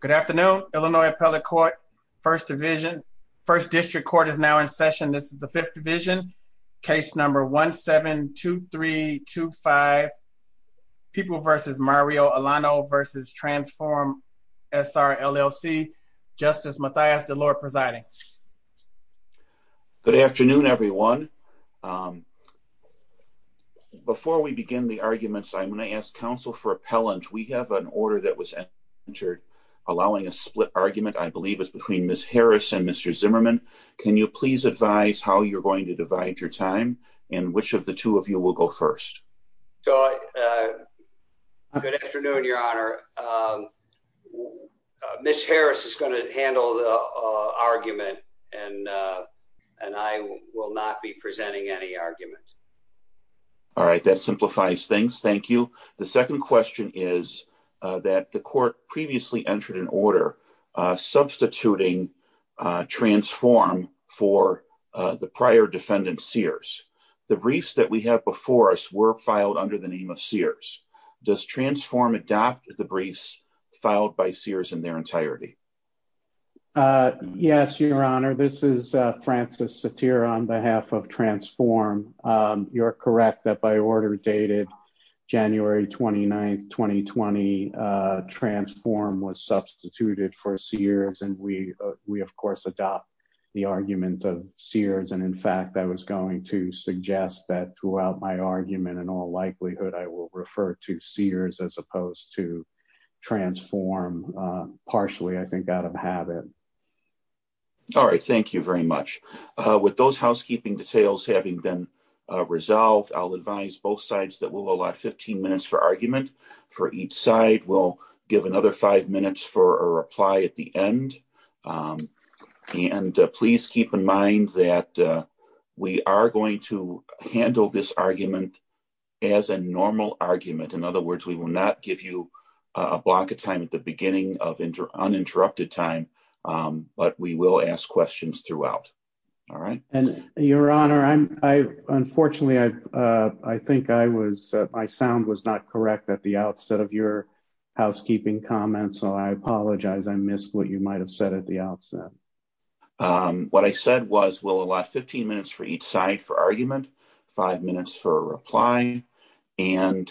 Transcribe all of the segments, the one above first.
Good afternoon, Illinois Appellate Court, First Division. First District Court is now in session. This is the Fifth Division, case number 1-7-2-3-2-5, People v. Mario Alano v. Transform SRLLC, Justice Mathias DeLore presiding. Good afternoon, everyone. Before we begin the arguments, I'm going to ask counsel for appellant. We have an order that was entered allowing a split argument, I believe it's between Ms. Harris and Mr. Zimmerman. Can you please advise how you're going to divide your time and which of the two of you will go first? Good afternoon, Your Honor. Ms. Harris is going to handle the argument and I will not be presenting any argument. All right, that simplifies things. Thank you. The second question is that the court previously entered an order substituting Transform for the prior defendant, Sears. The briefs that we have before us were filed under the name of Sears. Does Transform adopt the briefs filed by Sears in their entirety? Yes, Your Honor. This is Francis Satir on behalf of Transform. You're correct that by order dated January 29th, 2020, Transform was substituted for Sears and we of course adopt the argument of Sears. And in fact, I was going to suggest that throughout my argument, in all likelihood, I will refer to Sears as opposed to Transform partially, I think, out of habit. All right, thank you very much. With those housekeeping details having been resolved, I'll advise both sides that we'll allow 15 minutes for argument for each side. We'll give another five minutes for a reply at the end. And please keep in mind that we are going to handle this argument as a normal argument. In other words, we will not give you a block of time at the time, but we will ask questions throughout. All right. And Your Honor, I unfortunately, I think I was, my sound was not correct at the outset of your housekeeping comments. So I apologize. I missed what you might have said at the outset. What I said was, we'll allow 15 minutes for each side for argument, five minutes for a reply. And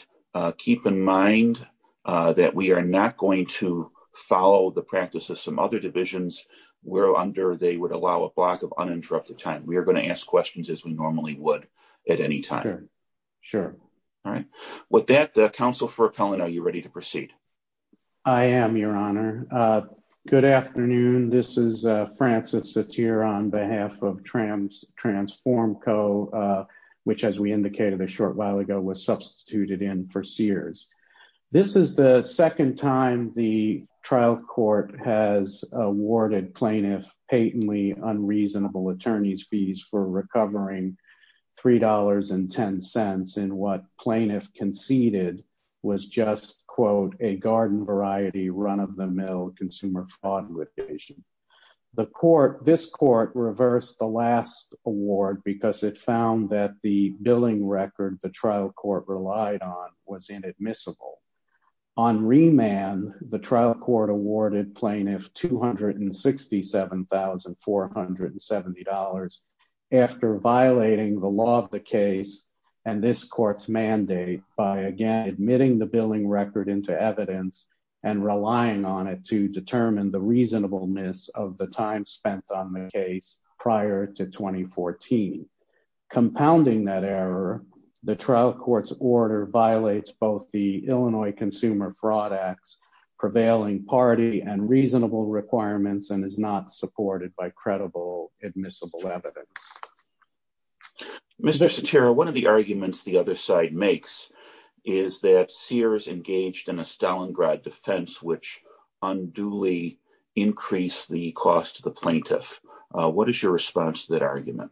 keep in mind that we are not going to follow the practice of some other divisions where under they would allow a block of uninterrupted time. We are going to ask questions as we normally would at any time. Sure. All right. With that, the counsel for appellant, are you ready to proceed? I am, Your Honor. Good afternoon. This is Francis Satir on behalf of Transform Co, which as we indicated a short while ago was the second time the trial court has awarded plaintiff patently unreasonable attorney's fees for recovering $3.10 in what plaintiff conceded was just, quote, a garden variety run of the mill consumer fraud litigation. The court, this court reversed the last award because it found that the billing record the trial court relied on was inadmissible. On remand, the trial court awarded plaintiff $267,470 after violating the law of the case and this court's mandate by again admitting the billing record into evidence and relying on it to determine the reasonableness of the time spent on the case prior to trial. Court's order violates both the Illinois Consumer Fraud Acts prevailing party and reasonable requirements and is not supported by credible admissible evidence. Mr Saterra, one of the arguments the other side makes is that Sears engaged in a Stalingrad defense, which unduly increase the cost of the plaintiff. What is your response to that argument?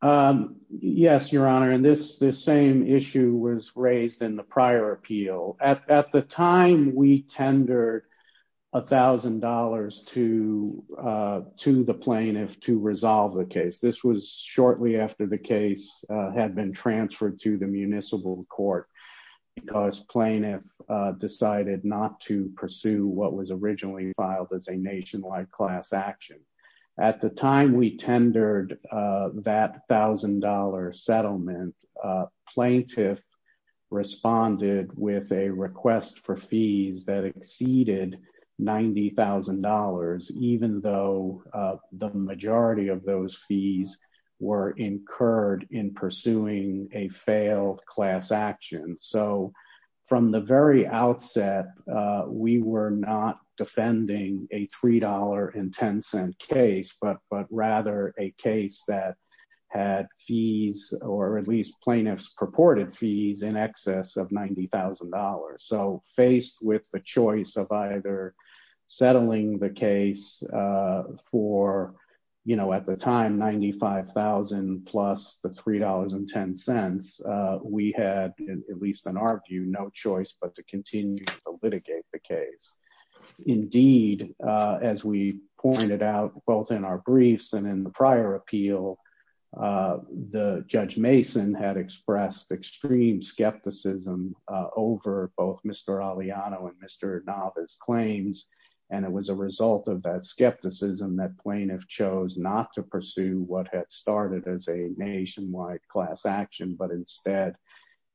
Um, yes, Your Honor. And this same issue was raised in the prior appeal. At the time we tendered $1,000 to the plaintiff to resolve the case. This was shortly after the case had been transferred to the municipal court because plaintiff decided not to pursue what was originally filed as a nationwide class action. At the time we had a $1,000 settlement, plaintiff responded with a request for fees that exceeded $90,000, even though the majority of those fees were incurred in pursuing a failed class action. So from the very outset, we were not defending a fees or at least plaintiff's purported fees in excess of $90,000. So faced with the choice of either settling the case for, you know, at the time, 95,000 plus the $3.10 we had, at least in our view, no choice but to continue to litigate the case. Indeed, as we pointed out, both in our briefs and in the prior appeal, the Judge Mason had expressed extreme skepticism over both Mr. Aliano and Mr. Navas claims. And it was a result of that skepticism that plaintiff chose not to pursue what had started as a nationwide class action, but instead,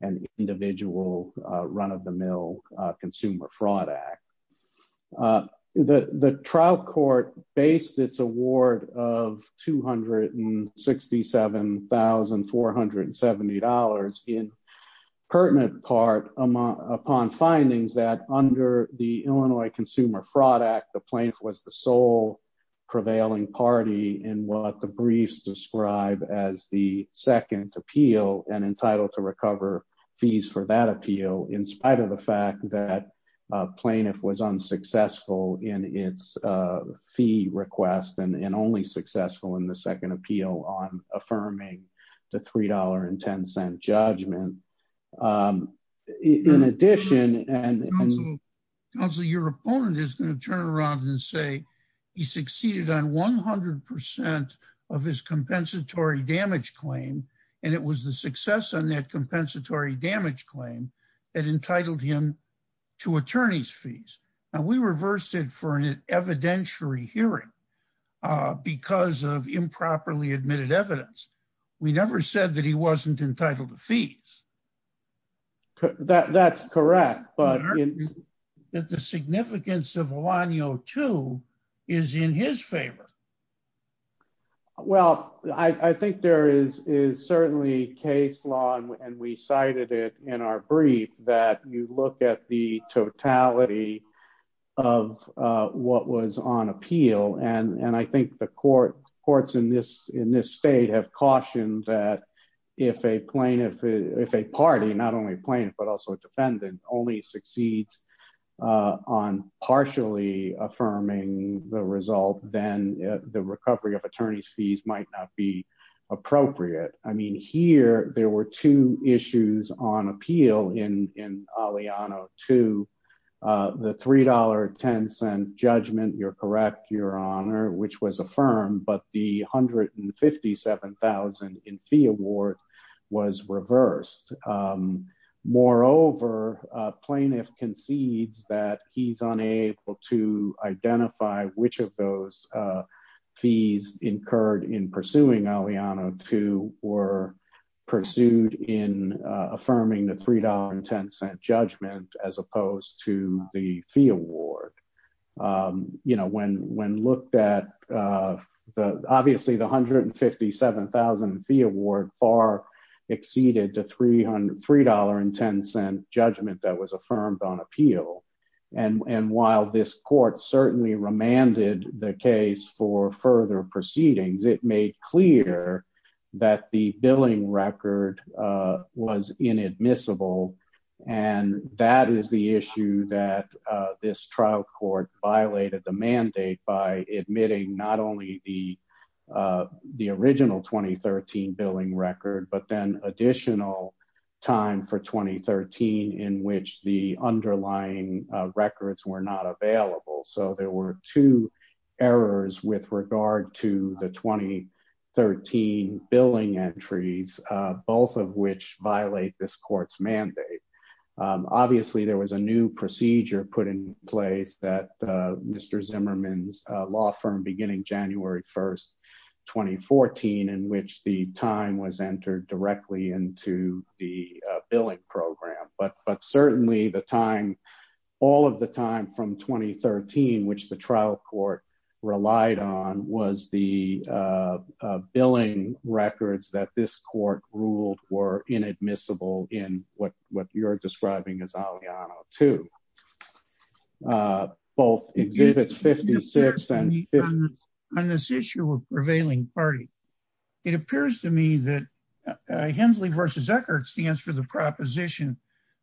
an individual run of the mill Consumer Fraud Act. The trial court based its award of $267,470 in pertinent part upon findings that under the Illinois Consumer Fraud Act, the plaintiff was the sole prevailing party in what the briefs describe as the second appeal and entitled to recover fees for that appeal in spite of the fact that plaintiff was unsuccessful in its fee request and only successful in the second appeal on affirming the $3.10 judgment. In addition, and also your opponent is going to turn around and say, he succeeded on 100% of his compensatory damage claim. And it was the success on that compensatory damage claim that entitled him to attorney's for an evidentiary hearing because of improperly admitted evidence. We never said that he wasn't entitled to fees. That's correct. But the significance of Aliano too, is in his favor. Well, I think there is is certainly case law, and we cited it in our brief that you look at the totality of what was on appeal. And I think the courts in this state have cautioned that if a plaintiff, if a party, not only a plaintiff, but also a defendant only succeeds on partially affirming the result, then the recovery of attorney's fees might not be appropriate. I mean, here, there were two issues on appeal in Aliano too. The $3.10 judgment, you're correct, your honor, which was affirmed, but the $157,000 in fee award was reversed. Moreover, plaintiff concedes that he's unable to identify which of those fees incurred in pursuing Aliano too were pursued in affirming the $3.10 judgment as opposed to the fee award. You know, when when looked at, obviously the $157,000 fee award far exceeded the $3.10 judgment that was the case for further proceedings, it made clear that the billing record was inadmissible. And that is the issue that this trial court violated the mandate by admitting not only the the original 2013 billing record, but then additional time for 2013, in which the underlying records were not available. So there were two errors with regard to the 2013 billing entries, both of which violate this court's mandate. Obviously, there was a new procedure put in place that Mr. Zimmerman's law firm beginning January 1, 2014, in which the time was entered directly into the billing program, but but certainly the time, all of the time from 2013, which the trial court relied on was the billing records that this court ruled were inadmissible in what what you're describing as Aliano too. Both exhibits 56 and on this issue of prevailing party, it appears to me that Hensley versus Eckert stands for the proposition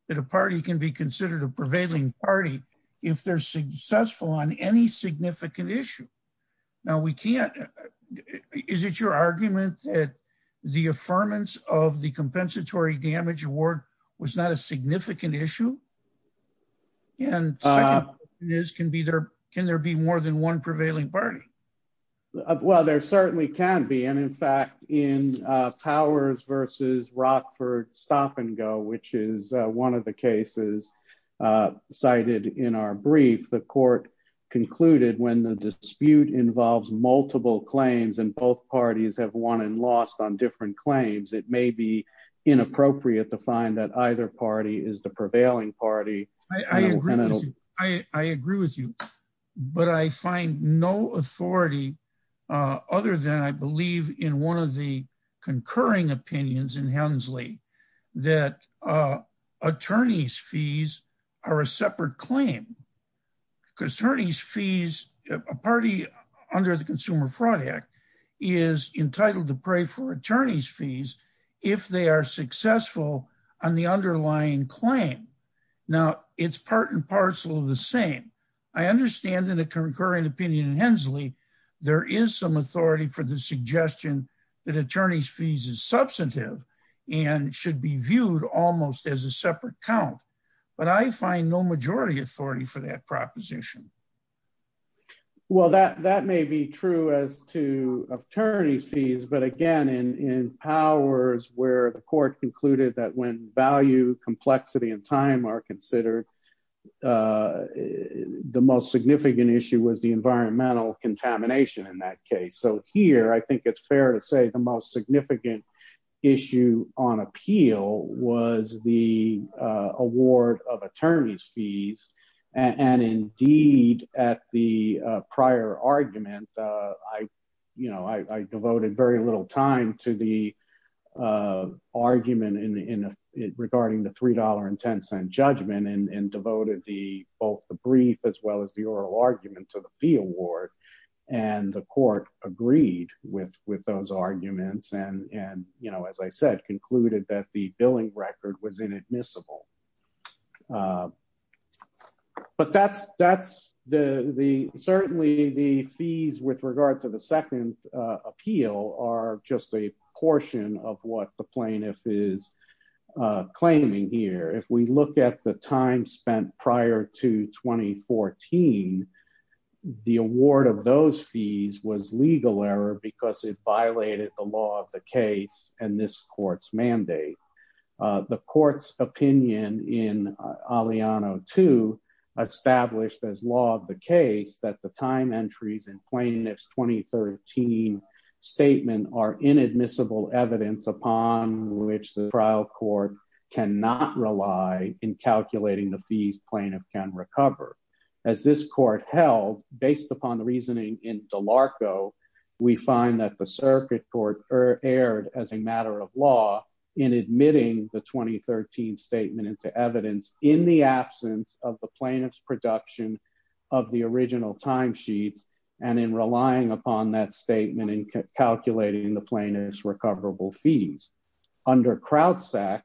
that a party can be considered a prevailing party, if they're successful on any significant issue. Now, we can't. Is it your argument that the affirmance of the compensatory damage award was not a significant issue? And this can be there? Can there be more than one prevailing party? Well, there certainly can be and in fact, in powers versus Rockford stop and go, which is one of the cases cited in our brief, the court concluded when the dispute involves multiple claims, and both parties have won and lost on different claims, it may be inappropriate to find that either party is the prevailing party. I agree with you. But I find no authority. Other than I believe in one of the concurring opinions in Hensley, that attorney's fees are a separate claim. Because attorney's fees, a party under the Consumer Fraud Act, is entitled to pray for attorney's fees, if they are successful on the underlying claim. Now, it's part and parcel of the same. I understand in a concurrent opinion in Hensley, there is some authority for the suggestion that attorney's fees is substantive, and should be viewed almost as a separate count. But I find no majority authority for that proposition. Well, that that may be true as to attorney's fees. But again, in powers where the court concluded that when value, complexity and time are related to environmental contamination in that case. So here, I think it's fair to say the most significant issue on appeal was the award of attorney's fees. And indeed, at the prior argument, I, you know, I devoted very little time to the argument in regarding the $3.10 judgment and devoted the both the brief as well as the oral argument to the fee award. And the court agreed with with those arguments and and you know, as I said, concluded that the billing record was inadmissible. But that's that's the the certainly the fees with regard to the second appeal are just a portion of what the plaintiff is claiming here. If we look at the time spent prior to 2014, the award of those fees was legal error because it violated the law of the case and this court's mandate. The court's opinion in Aliano to established as law of the case that the time entries and plaintiff's 2013 statement are inadmissible evidence upon which the trial court cannot rely in calculating the fees plaintiff can recover. As this court held based upon the reasoning in DeLarco, we find that the circuit court or aired as a matter of law in admitting the 2013 statement into evidence in the absence of the plaintiff's production of the original time sheets and in relying upon that plaintiff's recoverable fees under kraut sack.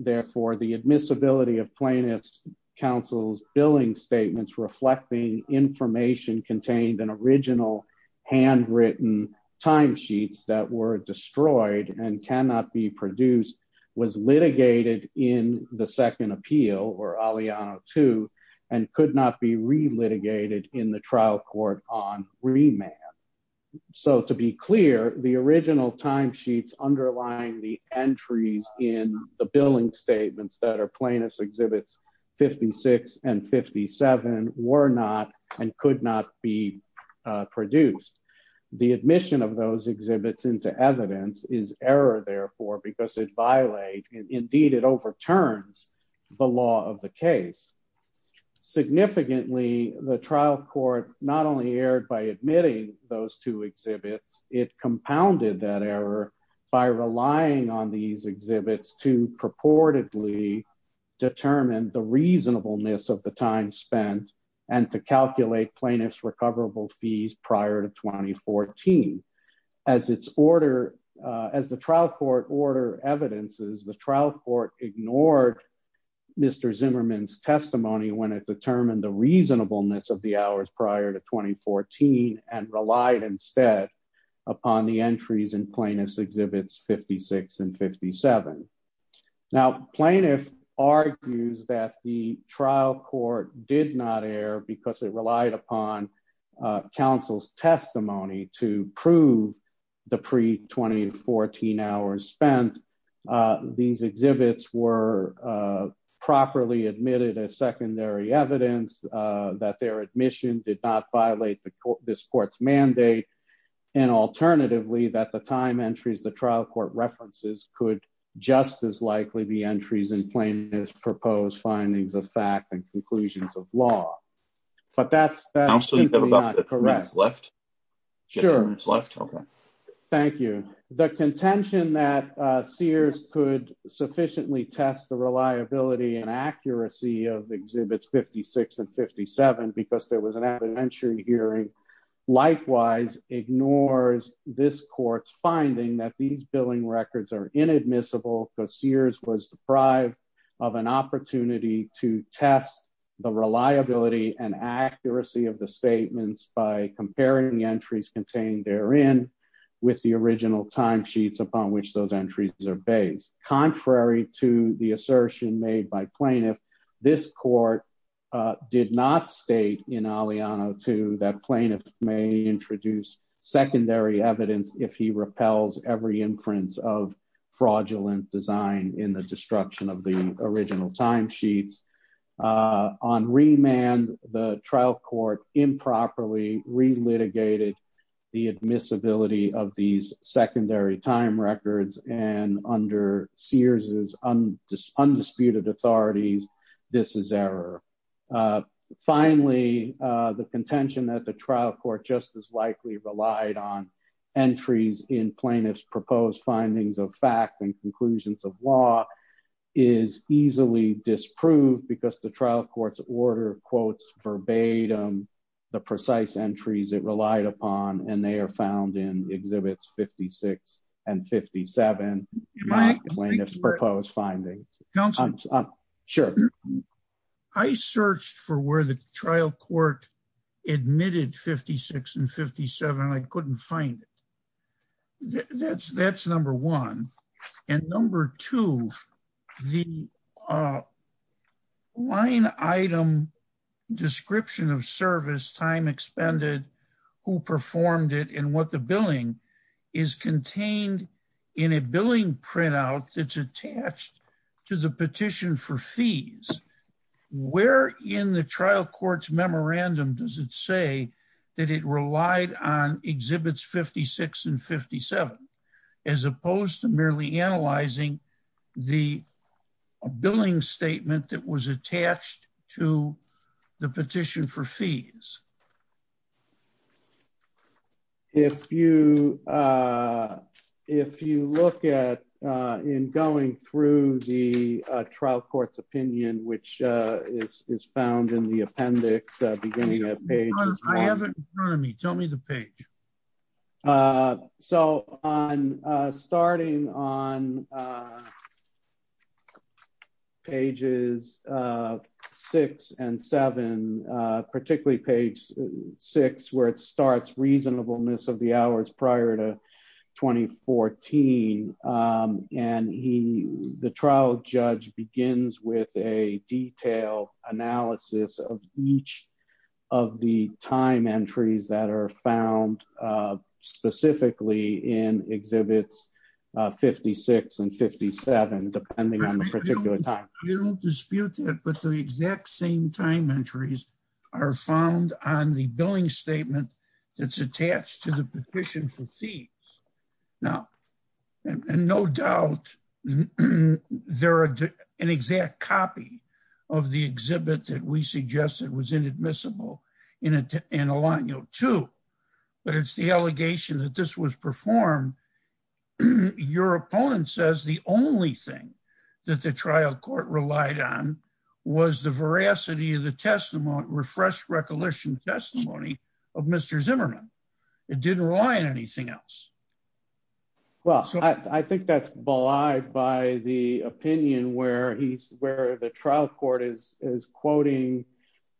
Therefore, the admissibility of plaintiff's counsel's billing statements reflecting information contained an original handwritten time sheets that were destroyed and cannot be produced was litigated in the second appeal or Aliano to and could not be The original time sheets underlying the entries in the billing statements that are plaintiff's exhibits 56 and 57 were not and could not be produced. The admission of those exhibits into evidence is error therefore because it violate indeed it overturns the law of the case. Significantly, the trial court not only aired by admitting those two exhibits, it compounded that error by relying on these exhibits to purportedly determine the reasonableness of the time spent and to calculate plaintiff's recoverable fees prior to 2014. As it's order as the trial court order evidences the trial court ignored Mr. Zimmerman's testimony when it determined the reasonableness of the hours prior to 2014 and relied instead upon the entries in plaintiff's exhibits 56 and 57. Now plaintiff argues that the trial court did not air because it relied upon counsel's testimony to prove the pre 2014 hours spent. These exhibits were properly admitted as secondary evidence that their admission did not violate the court this court's mandate and alternatively that the time entries the trial court references could just as likely be entries in plaintiff's proposed findings of fact and conclusions of law. But that's absolutely not correct. Sure. Thank you. The contention that Sears could sufficiently test the exhibits 56 and 57 because there was an evidentiary hearing likewise ignores this court's finding that these billing records are inadmissible because Sears was deprived of an opportunity to test the reliability and accuracy of the statements by comparing entries contained therein with the original time sheets upon which those entries are based. Contrary to the assertion made by Sears, the trial court did not state in Aliano 2 that plaintiffs may introduce secondary evidence if he repels every inference of fraudulent design in the destruction of the original time sheets. On remand the trial court improperly relitigated the admissibility of these secondary time records and under Sears's undisputed authorities this is error. Finally the contention that the trial court just as likely relied on entries in plaintiff's proposed findings of fact and conclusions of law is easily disproved because the trial court's order quotes verbatim the precise entries it relied upon and they are found in Sears's findings. I searched for where the trial court admitted 56 and 57 I couldn't find it. That's that's number one and number two the line item description of service time expended who performed it and what the billing is contained in a billing printout that's attached to the petition for fees. Where in the trial court's memorandum does it say that it relied on exhibits 56 and 57 as opposed to merely analyzing the billing statement that was attached to the in going through the trial court's opinion which is found in the appendix beginning of page. I have it in front of me tell me the page. So on starting on pages six and seven particularly page six where it starts reasonableness of the hours prior to 2014 and he the trial judge begins with a detailed analysis of each of the time entries that are found specifically in exhibits 56 and 57 depending on the particular time. You don't dispute that but the exact same time entries are found on the Now and no doubt there are an exact copy of the exhibit that we suggested was inadmissible in a line you know two but it's the allegation that this was performed. Your opponent says the only thing that the trial court relied on was the veracity of the testimony refreshed recollection testimony of Mr. Zimmerman. It didn't rely on anything else. Well I think that's belied by the opinion where he's where the trial court is quoting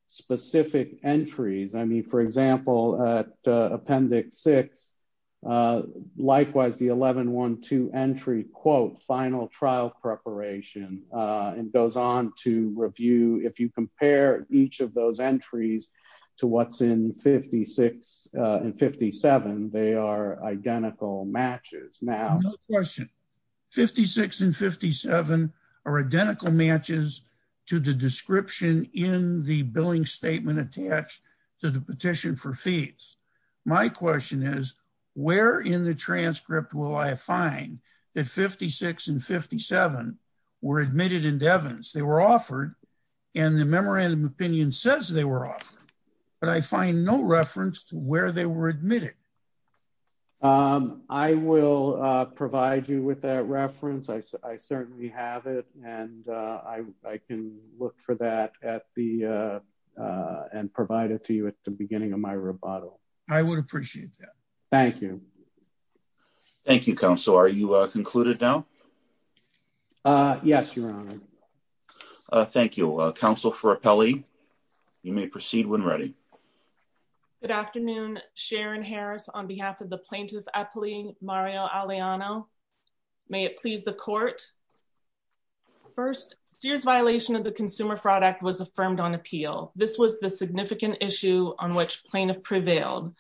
specific entries. I mean for example at appendix six likewise the 11-1-2 entry quote final trial preparation and goes on to review if you compare each of those entries to what's in 56 and 57 they are identical matches. Now question 56 and 57 are identical matches to the description in the billing statement attached to the petition for fees. My question is where in the transcript will I find that 56 and 57 were admitted in if they were offered and the memorandum opinion says they were offered but I find no reference to where they were admitted. I will provide you with that reference I certainly have it and I can look for that at the and provide it to you at the beginning of my rebuttal. I would appreciate that. Thank you. Thank you Thank You counsel for appellee you may proceed when ready. Good afternoon Sharon Harris on behalf of the plaintiff appellee Mario Alejandro. May it please the court. First Sears violation of the Consumer Fraud Act was affirmed on appeal. This was the significant issue on which plaintiff prevailed.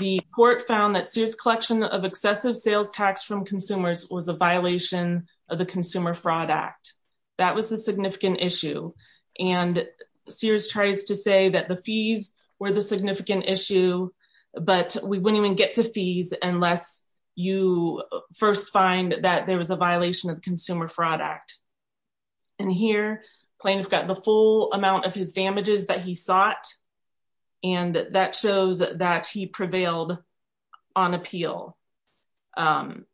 The court found that Sears collection of excessive sales tax from consumers was a violation of the Consumer Fraud Act. That was a significant issue and Sears tries to say that the fees were the significant issue but we wouldn't even get to fees unless you first find that there was a violation of Consumer Fraud Act. And here plaintiff got the full amount of his damages that he sought and that shows that he prevailed on appeal. And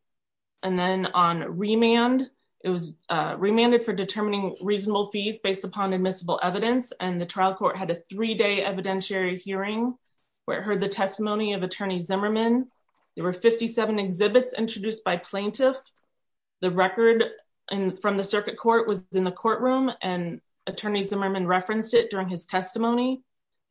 then on remand it was remanded for determining reasonable fees based upon admissible evidence and the trial court had a three day evidentiary hearing where it heard the testimony of attorney Zimmerman. There were 57 exhibits introduced by plaintiff. The record from the circuit court was in the courtroom and attorney Zimmerman referenced it during his testimony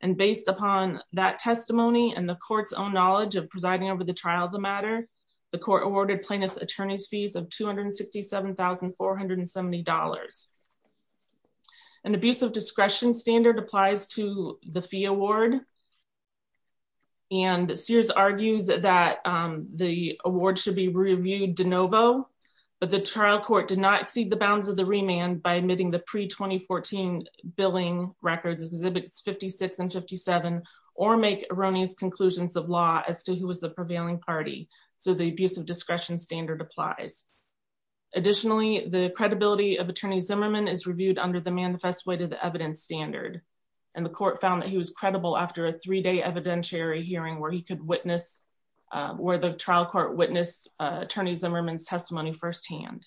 and the court's own knowledge of presiding over the trial of the matter. The court awarded plaintiff's attorney's fees of $267,470. An abusive discretion standard applies to the fee award. And Sears argues that the award should be reviewed de novo but the trial court did not exceed the bounds of the remand by admitting the pre 2014 billing records exhibits 56 and 57 or make erroneous conclusions of law as to who was the prevailing party. So the abuse of discretion standard applies. Additionally, the credibility of attorney Zimmerman is reviewed under the manifest way to the evidence standard. And the court found that he was credible after a three day evidentiary hearing where he could witness where the trial court witnessed attorneys Zimmerman's testimony firsthand.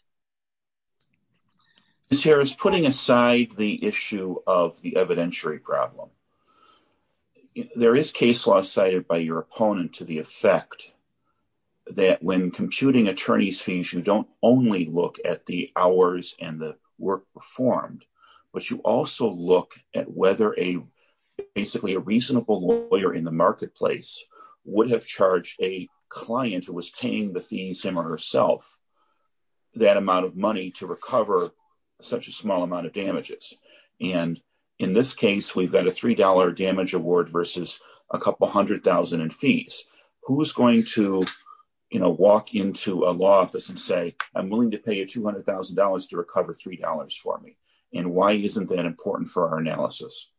This here is putting aside the issue of the evidentiary problem. There is case law cited by your opponent to the effect that when computing attorney's fees, you don't only look at the hours and the work performed, but you also look at whether a basically a reasonable lawyer in the marketplace would have charged a that amount of money to recover such a small amount of damages. And in this case, we've got a $3 damage award versus a couple 100,000 in fees. Who is going to, you know, walk into a law office and say, I'm willing to pay you $200,000 to recover $3 for me. And why isn't that important for our analysis?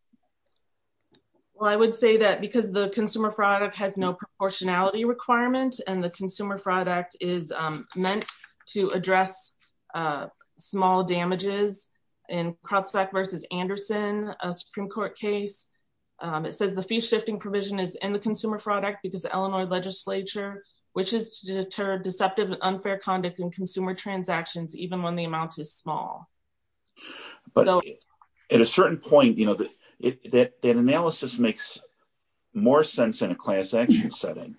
Well, I would say that because the consumer product has no to address small damages in crowdstock versus Anderson, a Supreme Court case. It says the fee shifting provision is in the consumer product because the Illinois legislature, which is to deter deceptive and unfair conduct in consumer transactions, even when the amount is small. But at a certain point, you know, that that analysis makes more sense in a action setting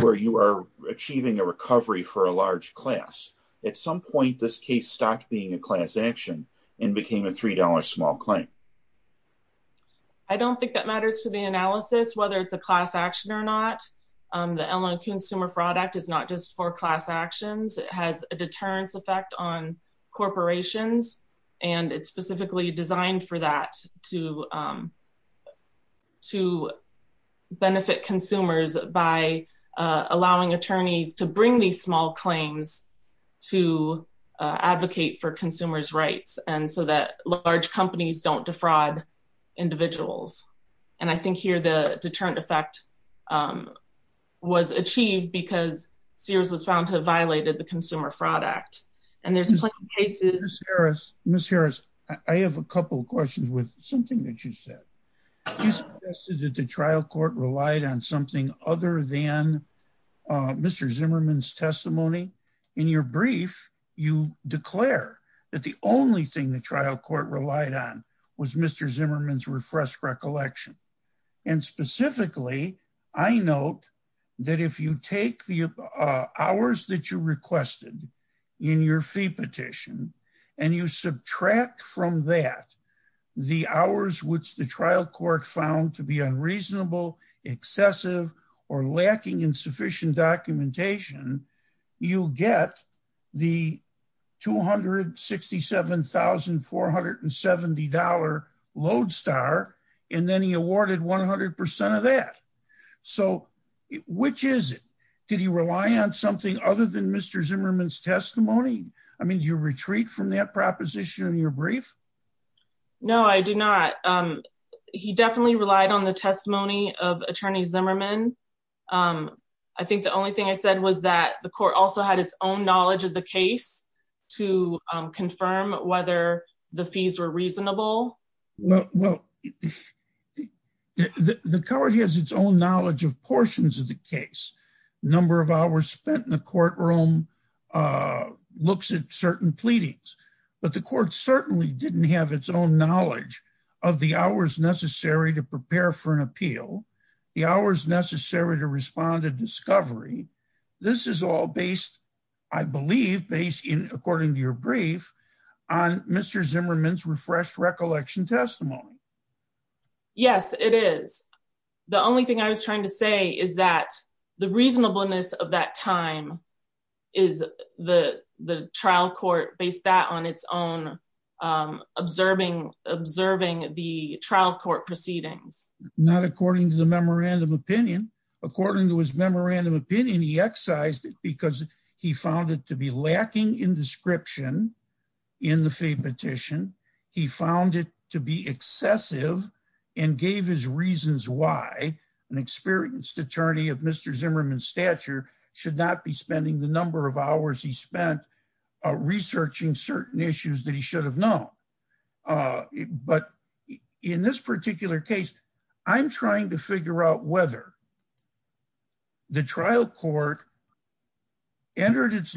where you are achieving a recovery for a large class. At some point, this case stopped being a class action and became a $3 small claim. I don't think that matters to the analysis, whether it's a class action or not. Um, the Ellen Consumer Fraud Act is not just for class actions. It has a deterrence effect on corporations, and it's specifically designed for that to, um, to benefit consumers by allowing attorneys to bring these small claims to advocate for consumers rights and so that large companies don't defraud individuals. And I think here the deterrent effect, um, was achieved because Sears was found to have violated the Consumer Fraud Act. And there's plenty of cases. Miss Harris, I have a couple of questions with something that you said you suggested that the trial court relied on something other than Mr Zimmerman's testimony. In your brief, you declare that the only thing the trial court relied on was Mr Zimmerman's refresh recollection. And specifically, I note that if you take the hours that you requested in your fee petition, and you subtract from that the hours which the trial court found to be unreasonable, excessive or lacking in sufficient documentation, you get the $267,470 Lodestar, and then he awarded 100% of that. So which is it? Did he rely on something other than Mr. Zimmerman's testimony? I mean, you retreat from that proposition in your brief? No, I do not. He definitely relied on the testimony of attorneys Zimmerman. Um, I think the only thing I said was that the court also had its own knowledge of the case to confirm whether the fees were reasonable. Well, the court has its own knowledge of portions of the case, number of hours spent in the courtroom, uh, looks at certain pleadings, but the court certainly didn't have its own knowledge of the hours necessary to prepare for an appeal, the hours necessary to respond to discovery. This is all based, I believe, based in according to your brief on Mr. Zimmerman's refreshed recollection testimony. Yes, it is. The only thing I was trying to say is that the reasonableness of that time is the the trial court based that on its own, um, observing, observing the trial court proceedings. Not according to the memorandum opinion. According to his memorandum opinion, he excised it because he found it to be lacking in description in the fee petition. He found it to be excessive and gave his reasons why an experienced attorney of Mr Zimmerman stature should not be spending the number of hours he spent researching certain issues that he should have known. Uh, but in this particular case, I'm trying to figure out whether the trial court entered its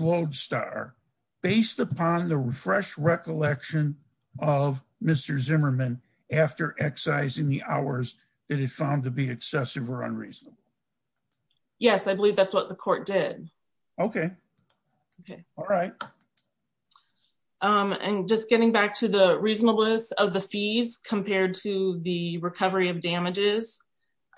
recollection of Mr Zimmerman after excising the hours that it found to be excessive or unreasonable. Yes, I believe that's what the court did. Okay. Okay. All right. Um, and just getting back to the reasonableness of the fees compared to the recovery of damages,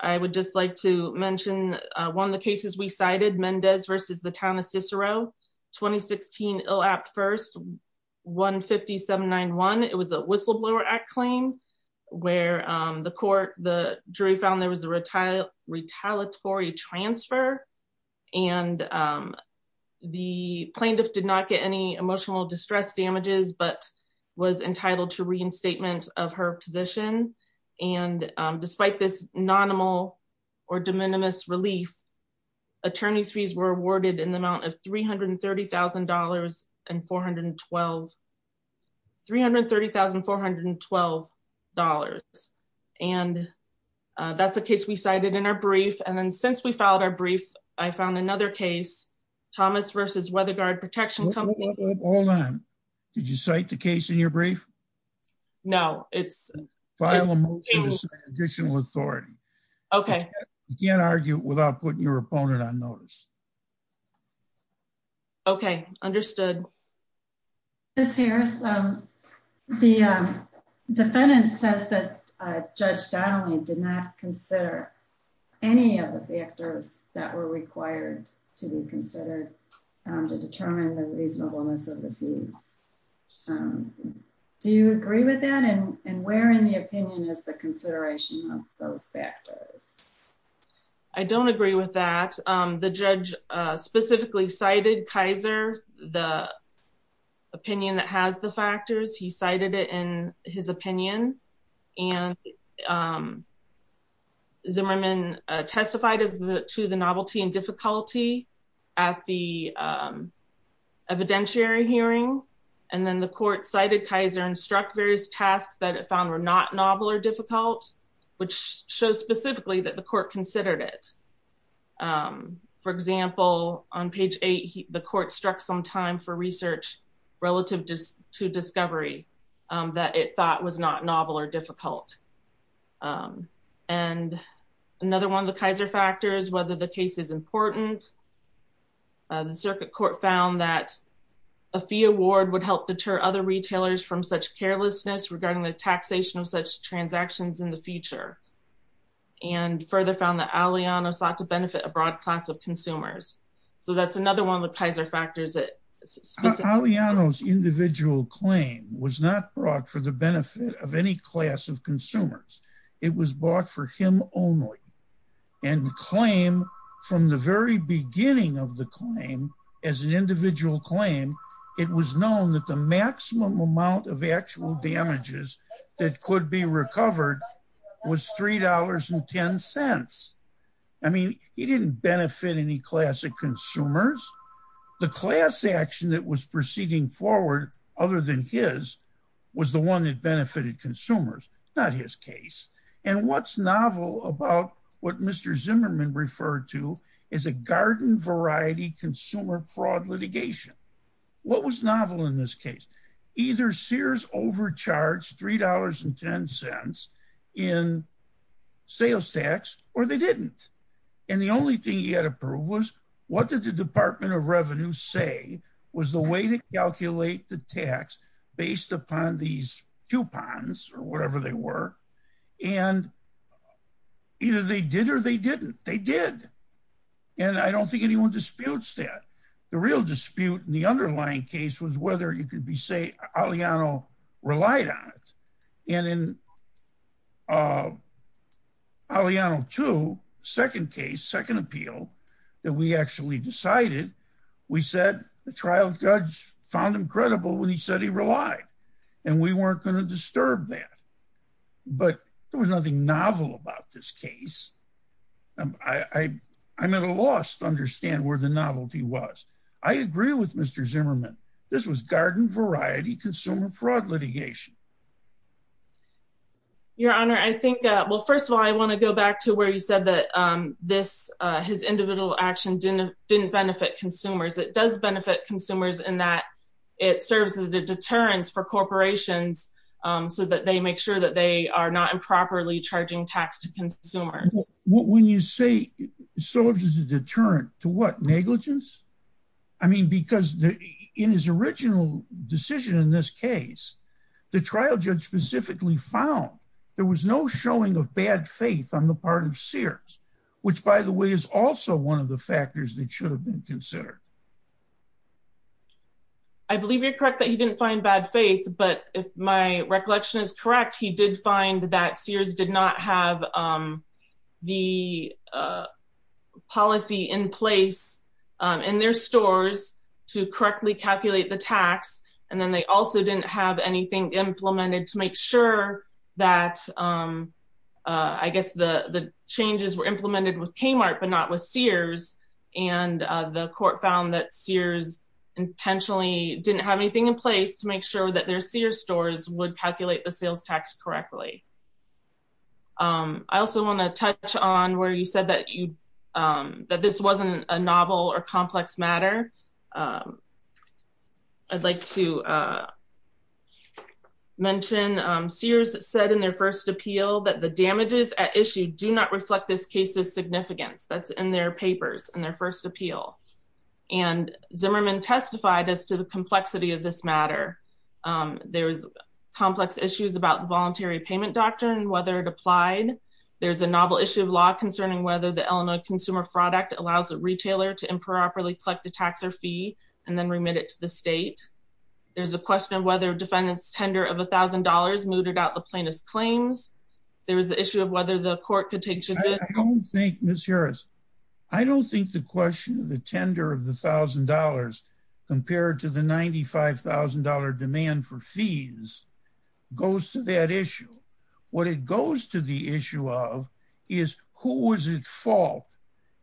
I would just like to mention one of the cases we cited Mendez versus the town of Cicero 2016 ill apt 1st 1 57 91. It was a whistleblower act claim where the court, the jury found there was a retired retaliatory transfer and, um, the plaintiff did not get any emotional distress damages but was entitled to reinstatement of her position. And despite this nonimal or in the amount of $330,000 and 412 $330,412. And, uh, that's a case we cited in our brief. And then since we found our brief, I found another case, Thomas versus Weather Guard Protection company. Hold on. Did you cite the case in your brief? No, it's additional authority. Okay. You can't argue without putting your opponent on orders. Okay. Understood. This here is, um, the defendant says that Judge Donnelly did not consider any of the factors that were required to be considered to determine the reasonableness of the fees. Um, do you agree with that? And where, in the opinion, is the consideration of those factors? I don't agree with that. Um, the judge specifically cited Kaiser, the opinion that has the factors. He cited it in his opinion. And, um, Zimmerman testified to the novelty and difficulty at the evidentiary hearing. And then the court cited Kaiser and struck various tasks that it found were not novel or difficult, which shows specifically that the court considered it. Um, for example, on page eight, the court struck some time for research relative to discovery that it thought was not novel or difficult. Um, and another one of the Kaiser factors, whether the case is important, the circuit court found that a fee award would help deter other retailers from such carelessness regarding the taxation of such transactions in the future. And further found that Aliano sought to benefit a broad class of consumers. So that's another one of the Kaiser factors that Aliano's individual claim was not brought for the benefit of any class of consumers. It was bought for him only and claim from the very beginning of the claim as an individual claim. It was known that the maximum amount of actual damages that could be recovered was $3 and 10 cents. I mean, he didn't benefit any classic consumers. The class action that was proceeding forward other than his was the one that benefited consumers, not his case. And what's novel about what Mr Zimmerman referred to is a garden variety consumer fraud litigation. What was novel in this case? Either Sears overcharged $3 and 10 cents in sales tax or they didn't. And the only thing he had approved was what did the Department of Revenue say was the way to calculate the tax based upon these coupons or whatever they were. And either they did or they didn't. They did. And I don't think anyone disputes that. The real dispute in the underlying case was whether you can say Aliano relied on it. And in Aliano 2, second case, second appeal, that we actually decided, we said the trial judge found him credible when he said he relied. And we weren't going to disturb that. But there was nothing novel about this case. I I'm at a loss to understand where the novelty was. I agree with Mr Zimmerman. This was garden variety consumer fraud litigation. Your Honor, I think, well, first of all, I want to go back to where you said that this his individual action didn't didn't benefit consumers. It does benefit consumers in that it serves as a deterrence for corporations so that they make sure that they are not improperly charging tax to consumers. When you say serves as a deterrent to what negligence? I mean, because in his original decision in this case, the trial judge specifically found there was no showing of bad faith on the part of Sears, which, by the way, is also one of the factors that should have been considered. I believe you're correct that he didn't find bad faith. But if my recollection is correct, he did find that Sears did not have the policy in place in their stores to correctly calculate the tax. And then they also didn't have anything implemented to make sure that I guess the changes were implemented with Kmart, but not with Sears. And the court found that Sears intentionally didn't have anything in place to make sure that their Sears stores would calculate the bills tax correctly. I also want to touch on where you said that you that this wasn't a novel or complex matter. I'd like to mention Sears said in their first appeal that the damages at issue do not reflect this case's significance that's in their papers in their first appeal. And Zimmerman testified as to complexity of this matter. There's complex issues about voluntary payment doctrine, whether it applied. There's a novel issue of law concerning whether the Illinois Consumer Fraud Act allows a retailer to improperly collect a tax or fee and then remit it to the state. There's a question of whether defendants tender of $1000 mooted out the plaintiff's claims. There was the issue of whether the court could take. I don't think Miss Harris. I don't think the question of the tender of the $1000 compared to the $95,000 demand for fees goes to that issue. What it goes to the issue of is who was at fault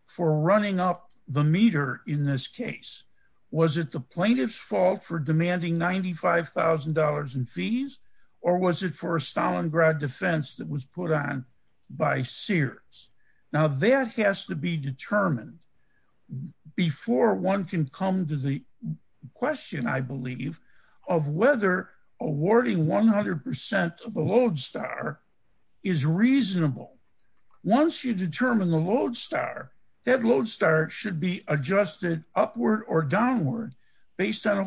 for running up the meter in this case? Was it the plaintiff's fault for demanding $95,000 in fees? Or was it for a Stalingrad defense that was put on by Sears? Now that has to be determined before one can come to the question, I believe, of whether awarding 100% of the Lodestar is reasonable. Once you determine the Lodestar, that Lodestar should be adjusted upward or downward based on a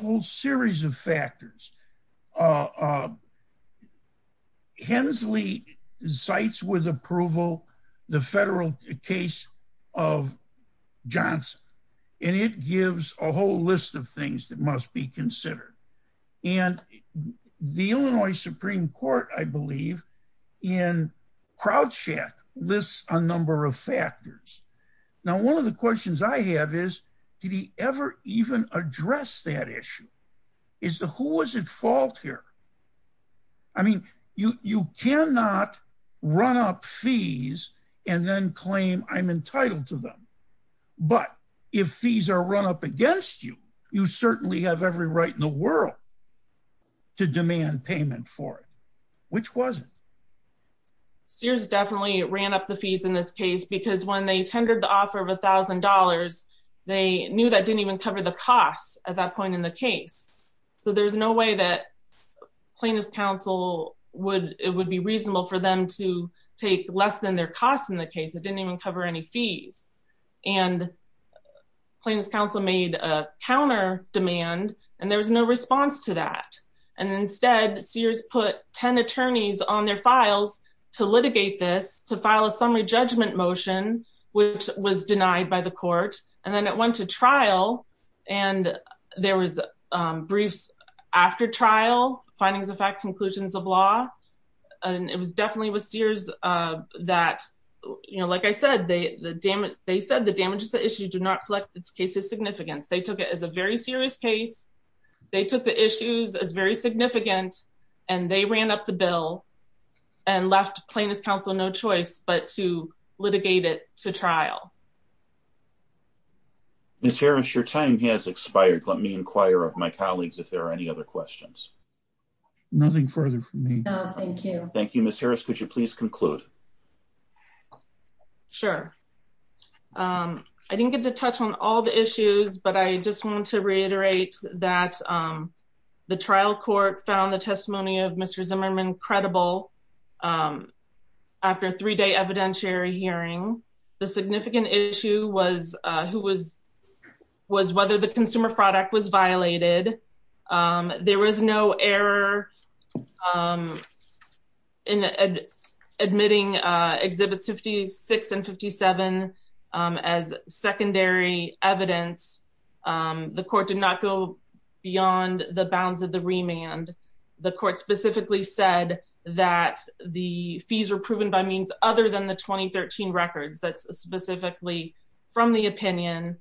sites with approval, the federal case of Johnson. And it gives a whole list of things that must be considered. And the Illinois Supreme Court, I believe, in crowdshot lists a number of factors. Now, one of the questions I have is, did he ever even address that issue? Is the who was at fault here? I mean, you cannot run up fees, and then claim I'm entitled to them. But if fees are run up against you, you certainly have every right in the world to demand payment for it, which wasn't. Sears definitely ran up the fees in this case, because when they tendered the $1,000, they knew that didn't even cover the costs at that point in the case. So there's no way that Plaintiff's counsel would it would be reasonable for them to take less than their costs in the case. It didn't even cover any fees. And Plaintiff's counsel made a counter demand, and there was no response to that. And instead, Sears put 10 attorneys on their files to litigate this to file a denied by the court. And then it went to trial. And there was briefs after trial findings of fact conclusions of law. And it was definitely with Sears that, you know, like I said, they the damage, they said the damages to issue do not reflect this case's significance. They took it as a very serious case. They took the issues as very significant. And they ran up the bill and left Plaintiff's counsel no choice but to litigate it to trial. Miss Harris, your time has expired. Let me inquire of my colleagues if there are any other questions. Nothing further for me. Thank you. Thank you, Miss Harris. Could you please conclude? Sure. I didn't get to touch on all the issues. But I just want to reiterate that the three day evidentiary hearing, the significant issue was who was was whether the consumer product was violated. There was no error in admitting exhibits 56 and 57. As secondary evidence, the court did not go beyond the bounds of the remand. The court specifically said that the fees were proven by means other than the 2013 records. That's specifically from the opinion.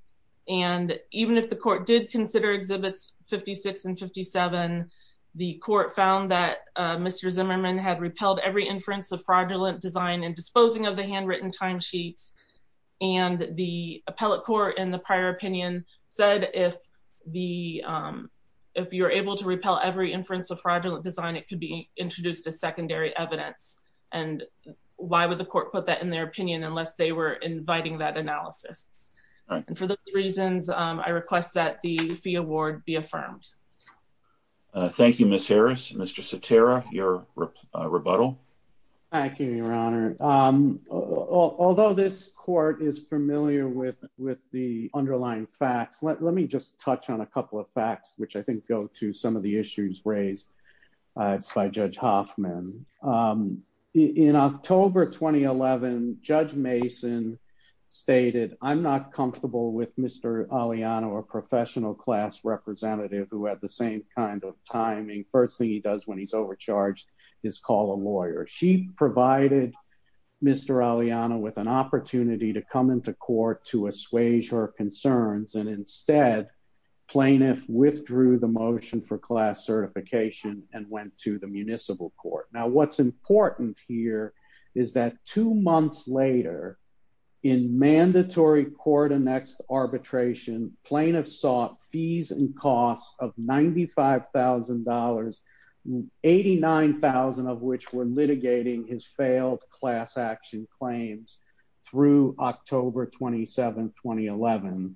And even if the court did consider exhibits 56 and 57, the court found that Mr. Zimmerman had repelled every inference of fraudulent design and disposing of the handwritten timesheets. And the appellate court in the prior opinion said if the if you're able to inference of fraudulent design, it could be introduced a secondary evidence. And why would the court put that in their opinion unless they were inviting that analysis? And for those reasons, I request that the fee award be affirmed. Thank you, Miss Harris. Mr. Saterra, your rebuttal. Thank you, Your Honor. Um, although this court is familiar with with the underlying facts, let me just touch on a couple of facts, which I think go to some of the issues raised by Judge Hoffman. Um, in October 2011, Judge Mason stated I'm not comfortable with Mr. Aliano, a professional class representative who had the same kind of timing. First thing he does when he's overcharged is call a lawyer. She provided Mr. Aliano with an opportunity to come into court to assuage her claim. Instead, plaintiff withdrew the motion for class certification and went to the municipal court. Now, what's important here is that two months later, in mandatory court annexed arbitration, plaintiffs sought fees and costs of $95,000, 89,000 of which were litigating his failed class action claims through October 27, 2011.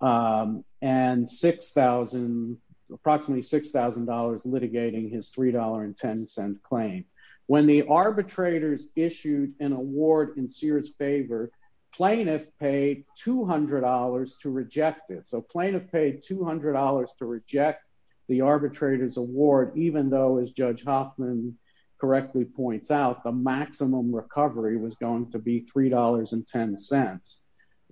Um, and 6,000 approximately $6,000 litigating his $3.10 claim. When the arbitrators issued an award in Sears favor, plaintiff paid $200 to reject it. So plaintiff paid $200 to reject the arbitrators award, even though, as Judge Hoffman correctly points out, the maximum recovery was going to be $3.10.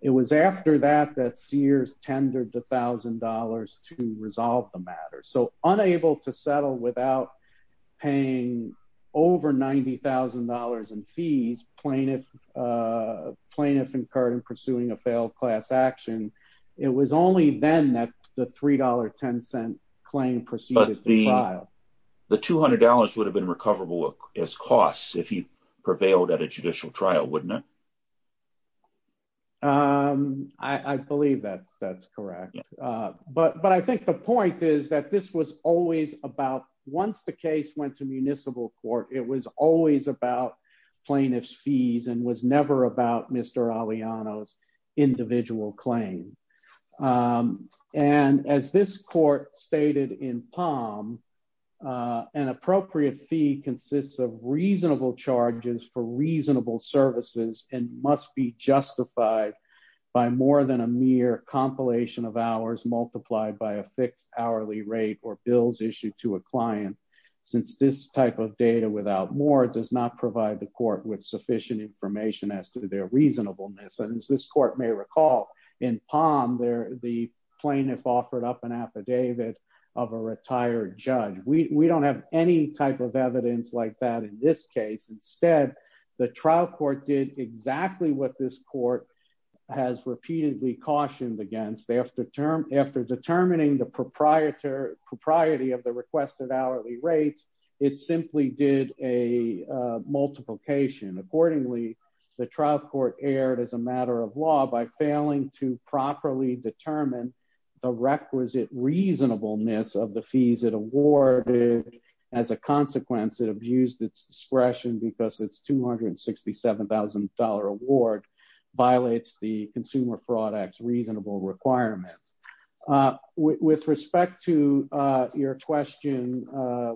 It was after that that Sears tendered $1,000 to resolve the matter. So unable to settle without paying over $90,000 in fees, plaintiff plaintiff incurred in pursuing a failed class action. It was only then that the $3.10 claim proceeded to trial. But the $200 would have been recoverable as costs if he prevailed at a judicial trial, wouldn't it? Um, I believe that that's correct. But but I think the point is that this was always about once the case went to municipal court, it was always about plaintiff's fees and was never about Mr. Aliano's individual claim. Um, and as this court stated in Palm, uh, an appropriate fee consists of reasonable charges for reasonable services and must be justified by more than a mere compilation of hours multiplied by a fixed hourly rate or bills issued to a client. Since this type of data without more does not provide the court with sufficient information as to their reasonableness. And as this court may recall in Palm there, the plaintiff offered up an affidavit of a retired judge. We don't have any type of evidence like that. In this case, instead, the trial court did exactly what this court has repeatedly cautioned against after term after determining the proprietor propriety of the requested hourly rates. It simply did a multiplication. Accordingly, the trial court aired as a matter of law by failing to properly determine the requisite reasonableness of the fees it awarded. As a consequence, it abused its discretion because it's $267,000 award violates the consumer products reasonable requirements. Uh, with respect to your question, uh,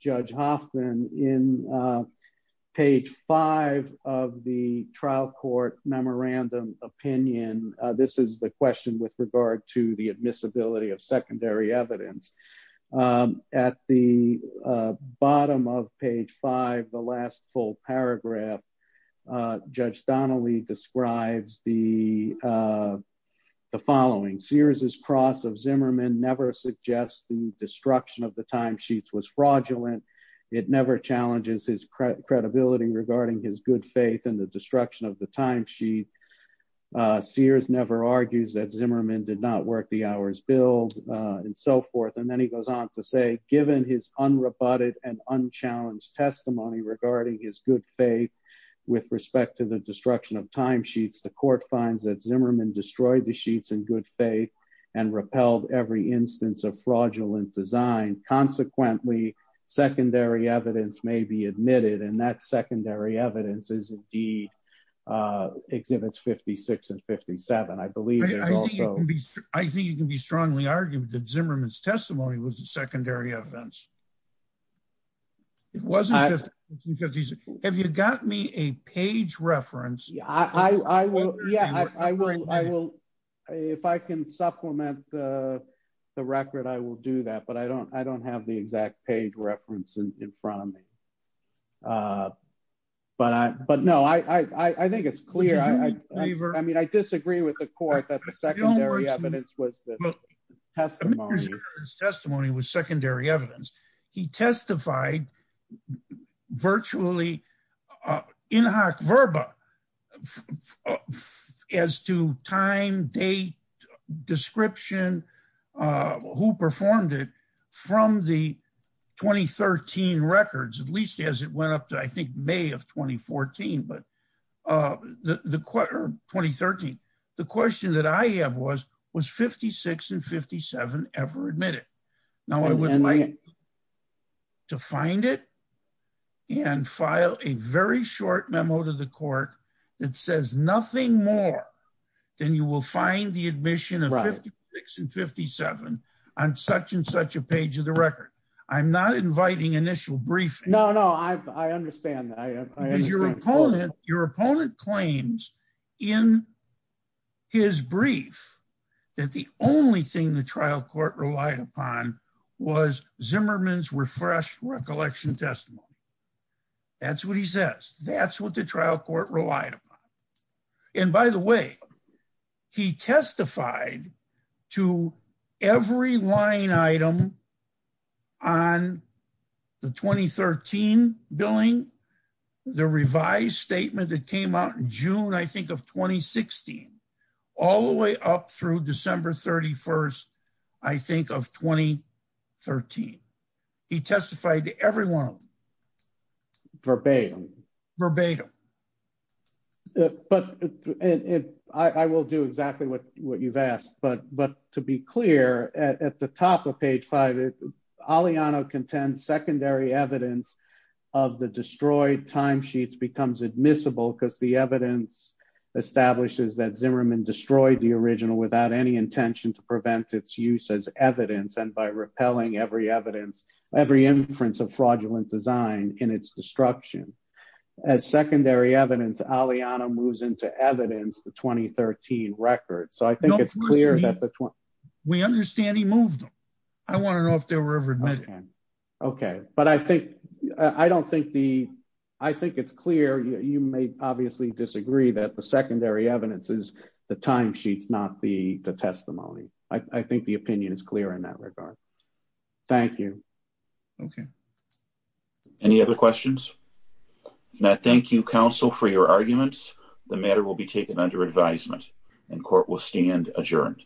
Judge Hoffman in, uh, page five of the trial court memorandum opinion. This is the question with regard to the admissibility of secondary evidence. Um, at the bottom of page five, the last full paragraph, uh, Judge Donnelly describes the, uh, the following series is cross of Zimmerman. Never suggest the destruction of the time sheets was fraudulent. It never challenges his credibility regarding his good faith in the destruction of the time. She, uh, Sears never argues that Zimmerman did not work the hours, build on so forth. And then he goes on to say, given his unrebutted and unchallenged testimony regarding his good faith with respect to the destruction of time sheets, the court finds that Zimmerman destroyed the sheets in good faith and repelled every instance of fraudulent design. Consequently, secondary evidence may be admitted. And that secondary evidence is indeed, uh, exhibits 56 and 57. I believe it can be. I think you can be strongly argued that Zimmerman's testimony was a secondary events. It wasn't just because he's, have you got me a page reference? I will. Yeah, uh, the record, I will do that, but I don't, I don't have the exact page reference in front of me. Uh, but I, but no, I, I think it's clear. I mean, I disagree with the court that the secondary evidence was testimony was secondary evidence. He testified virtually, uh, in hoc verba as to time date description, uh, who performed it from the 2013 records, at least as it went up to, I think, may of 2014, but, uh, the, the quarter 2013, the question that I have was, was 56 and 57 ever admitted. Now I would like to find it and file a very short memo to the court that says nothing more than you will find the admission of 56 and 57 on such and such a page of the record. I'm not inviting initial briefing. No, no. I understand that your opponent, your opponent claims in his brief that the only thing the trial court relied upon was Zimmerman's refresh recollection testimony. That's what he says. That's what the trial court relied upon. And by the way, he testified to every line item on the 2013 billing, the revised statement that came out in June, I think of 2016, all the way up through December 31st, I think of 2013, he said, but I will do exactly what, what you've asked, but, but to be clear at the top of page five, Aliano contends secondary evidence of the destroyed time sheets becomes admissible because the evidence establishes that Zimmerman destroyed the original without any intention to prevent its use as evidence. And by repelling every evidence, every inference of fraudulent design in its destruction as secondary evidence, Aliano moves into evidence, the 2013 record. So I think it's clear that we understand he moved them. I want to know if they were ever admitted. Okay. But I think, I don't think the, I think it's clear. You may obviously disagree that the secondary evidence is the time sheets, not the testimony. I think the opinion is clear in that regard. Thank you. Okay. Any other questions? Now, thank you counsel for your arguments. The matter will be taken under advisement and court will stand adjourned.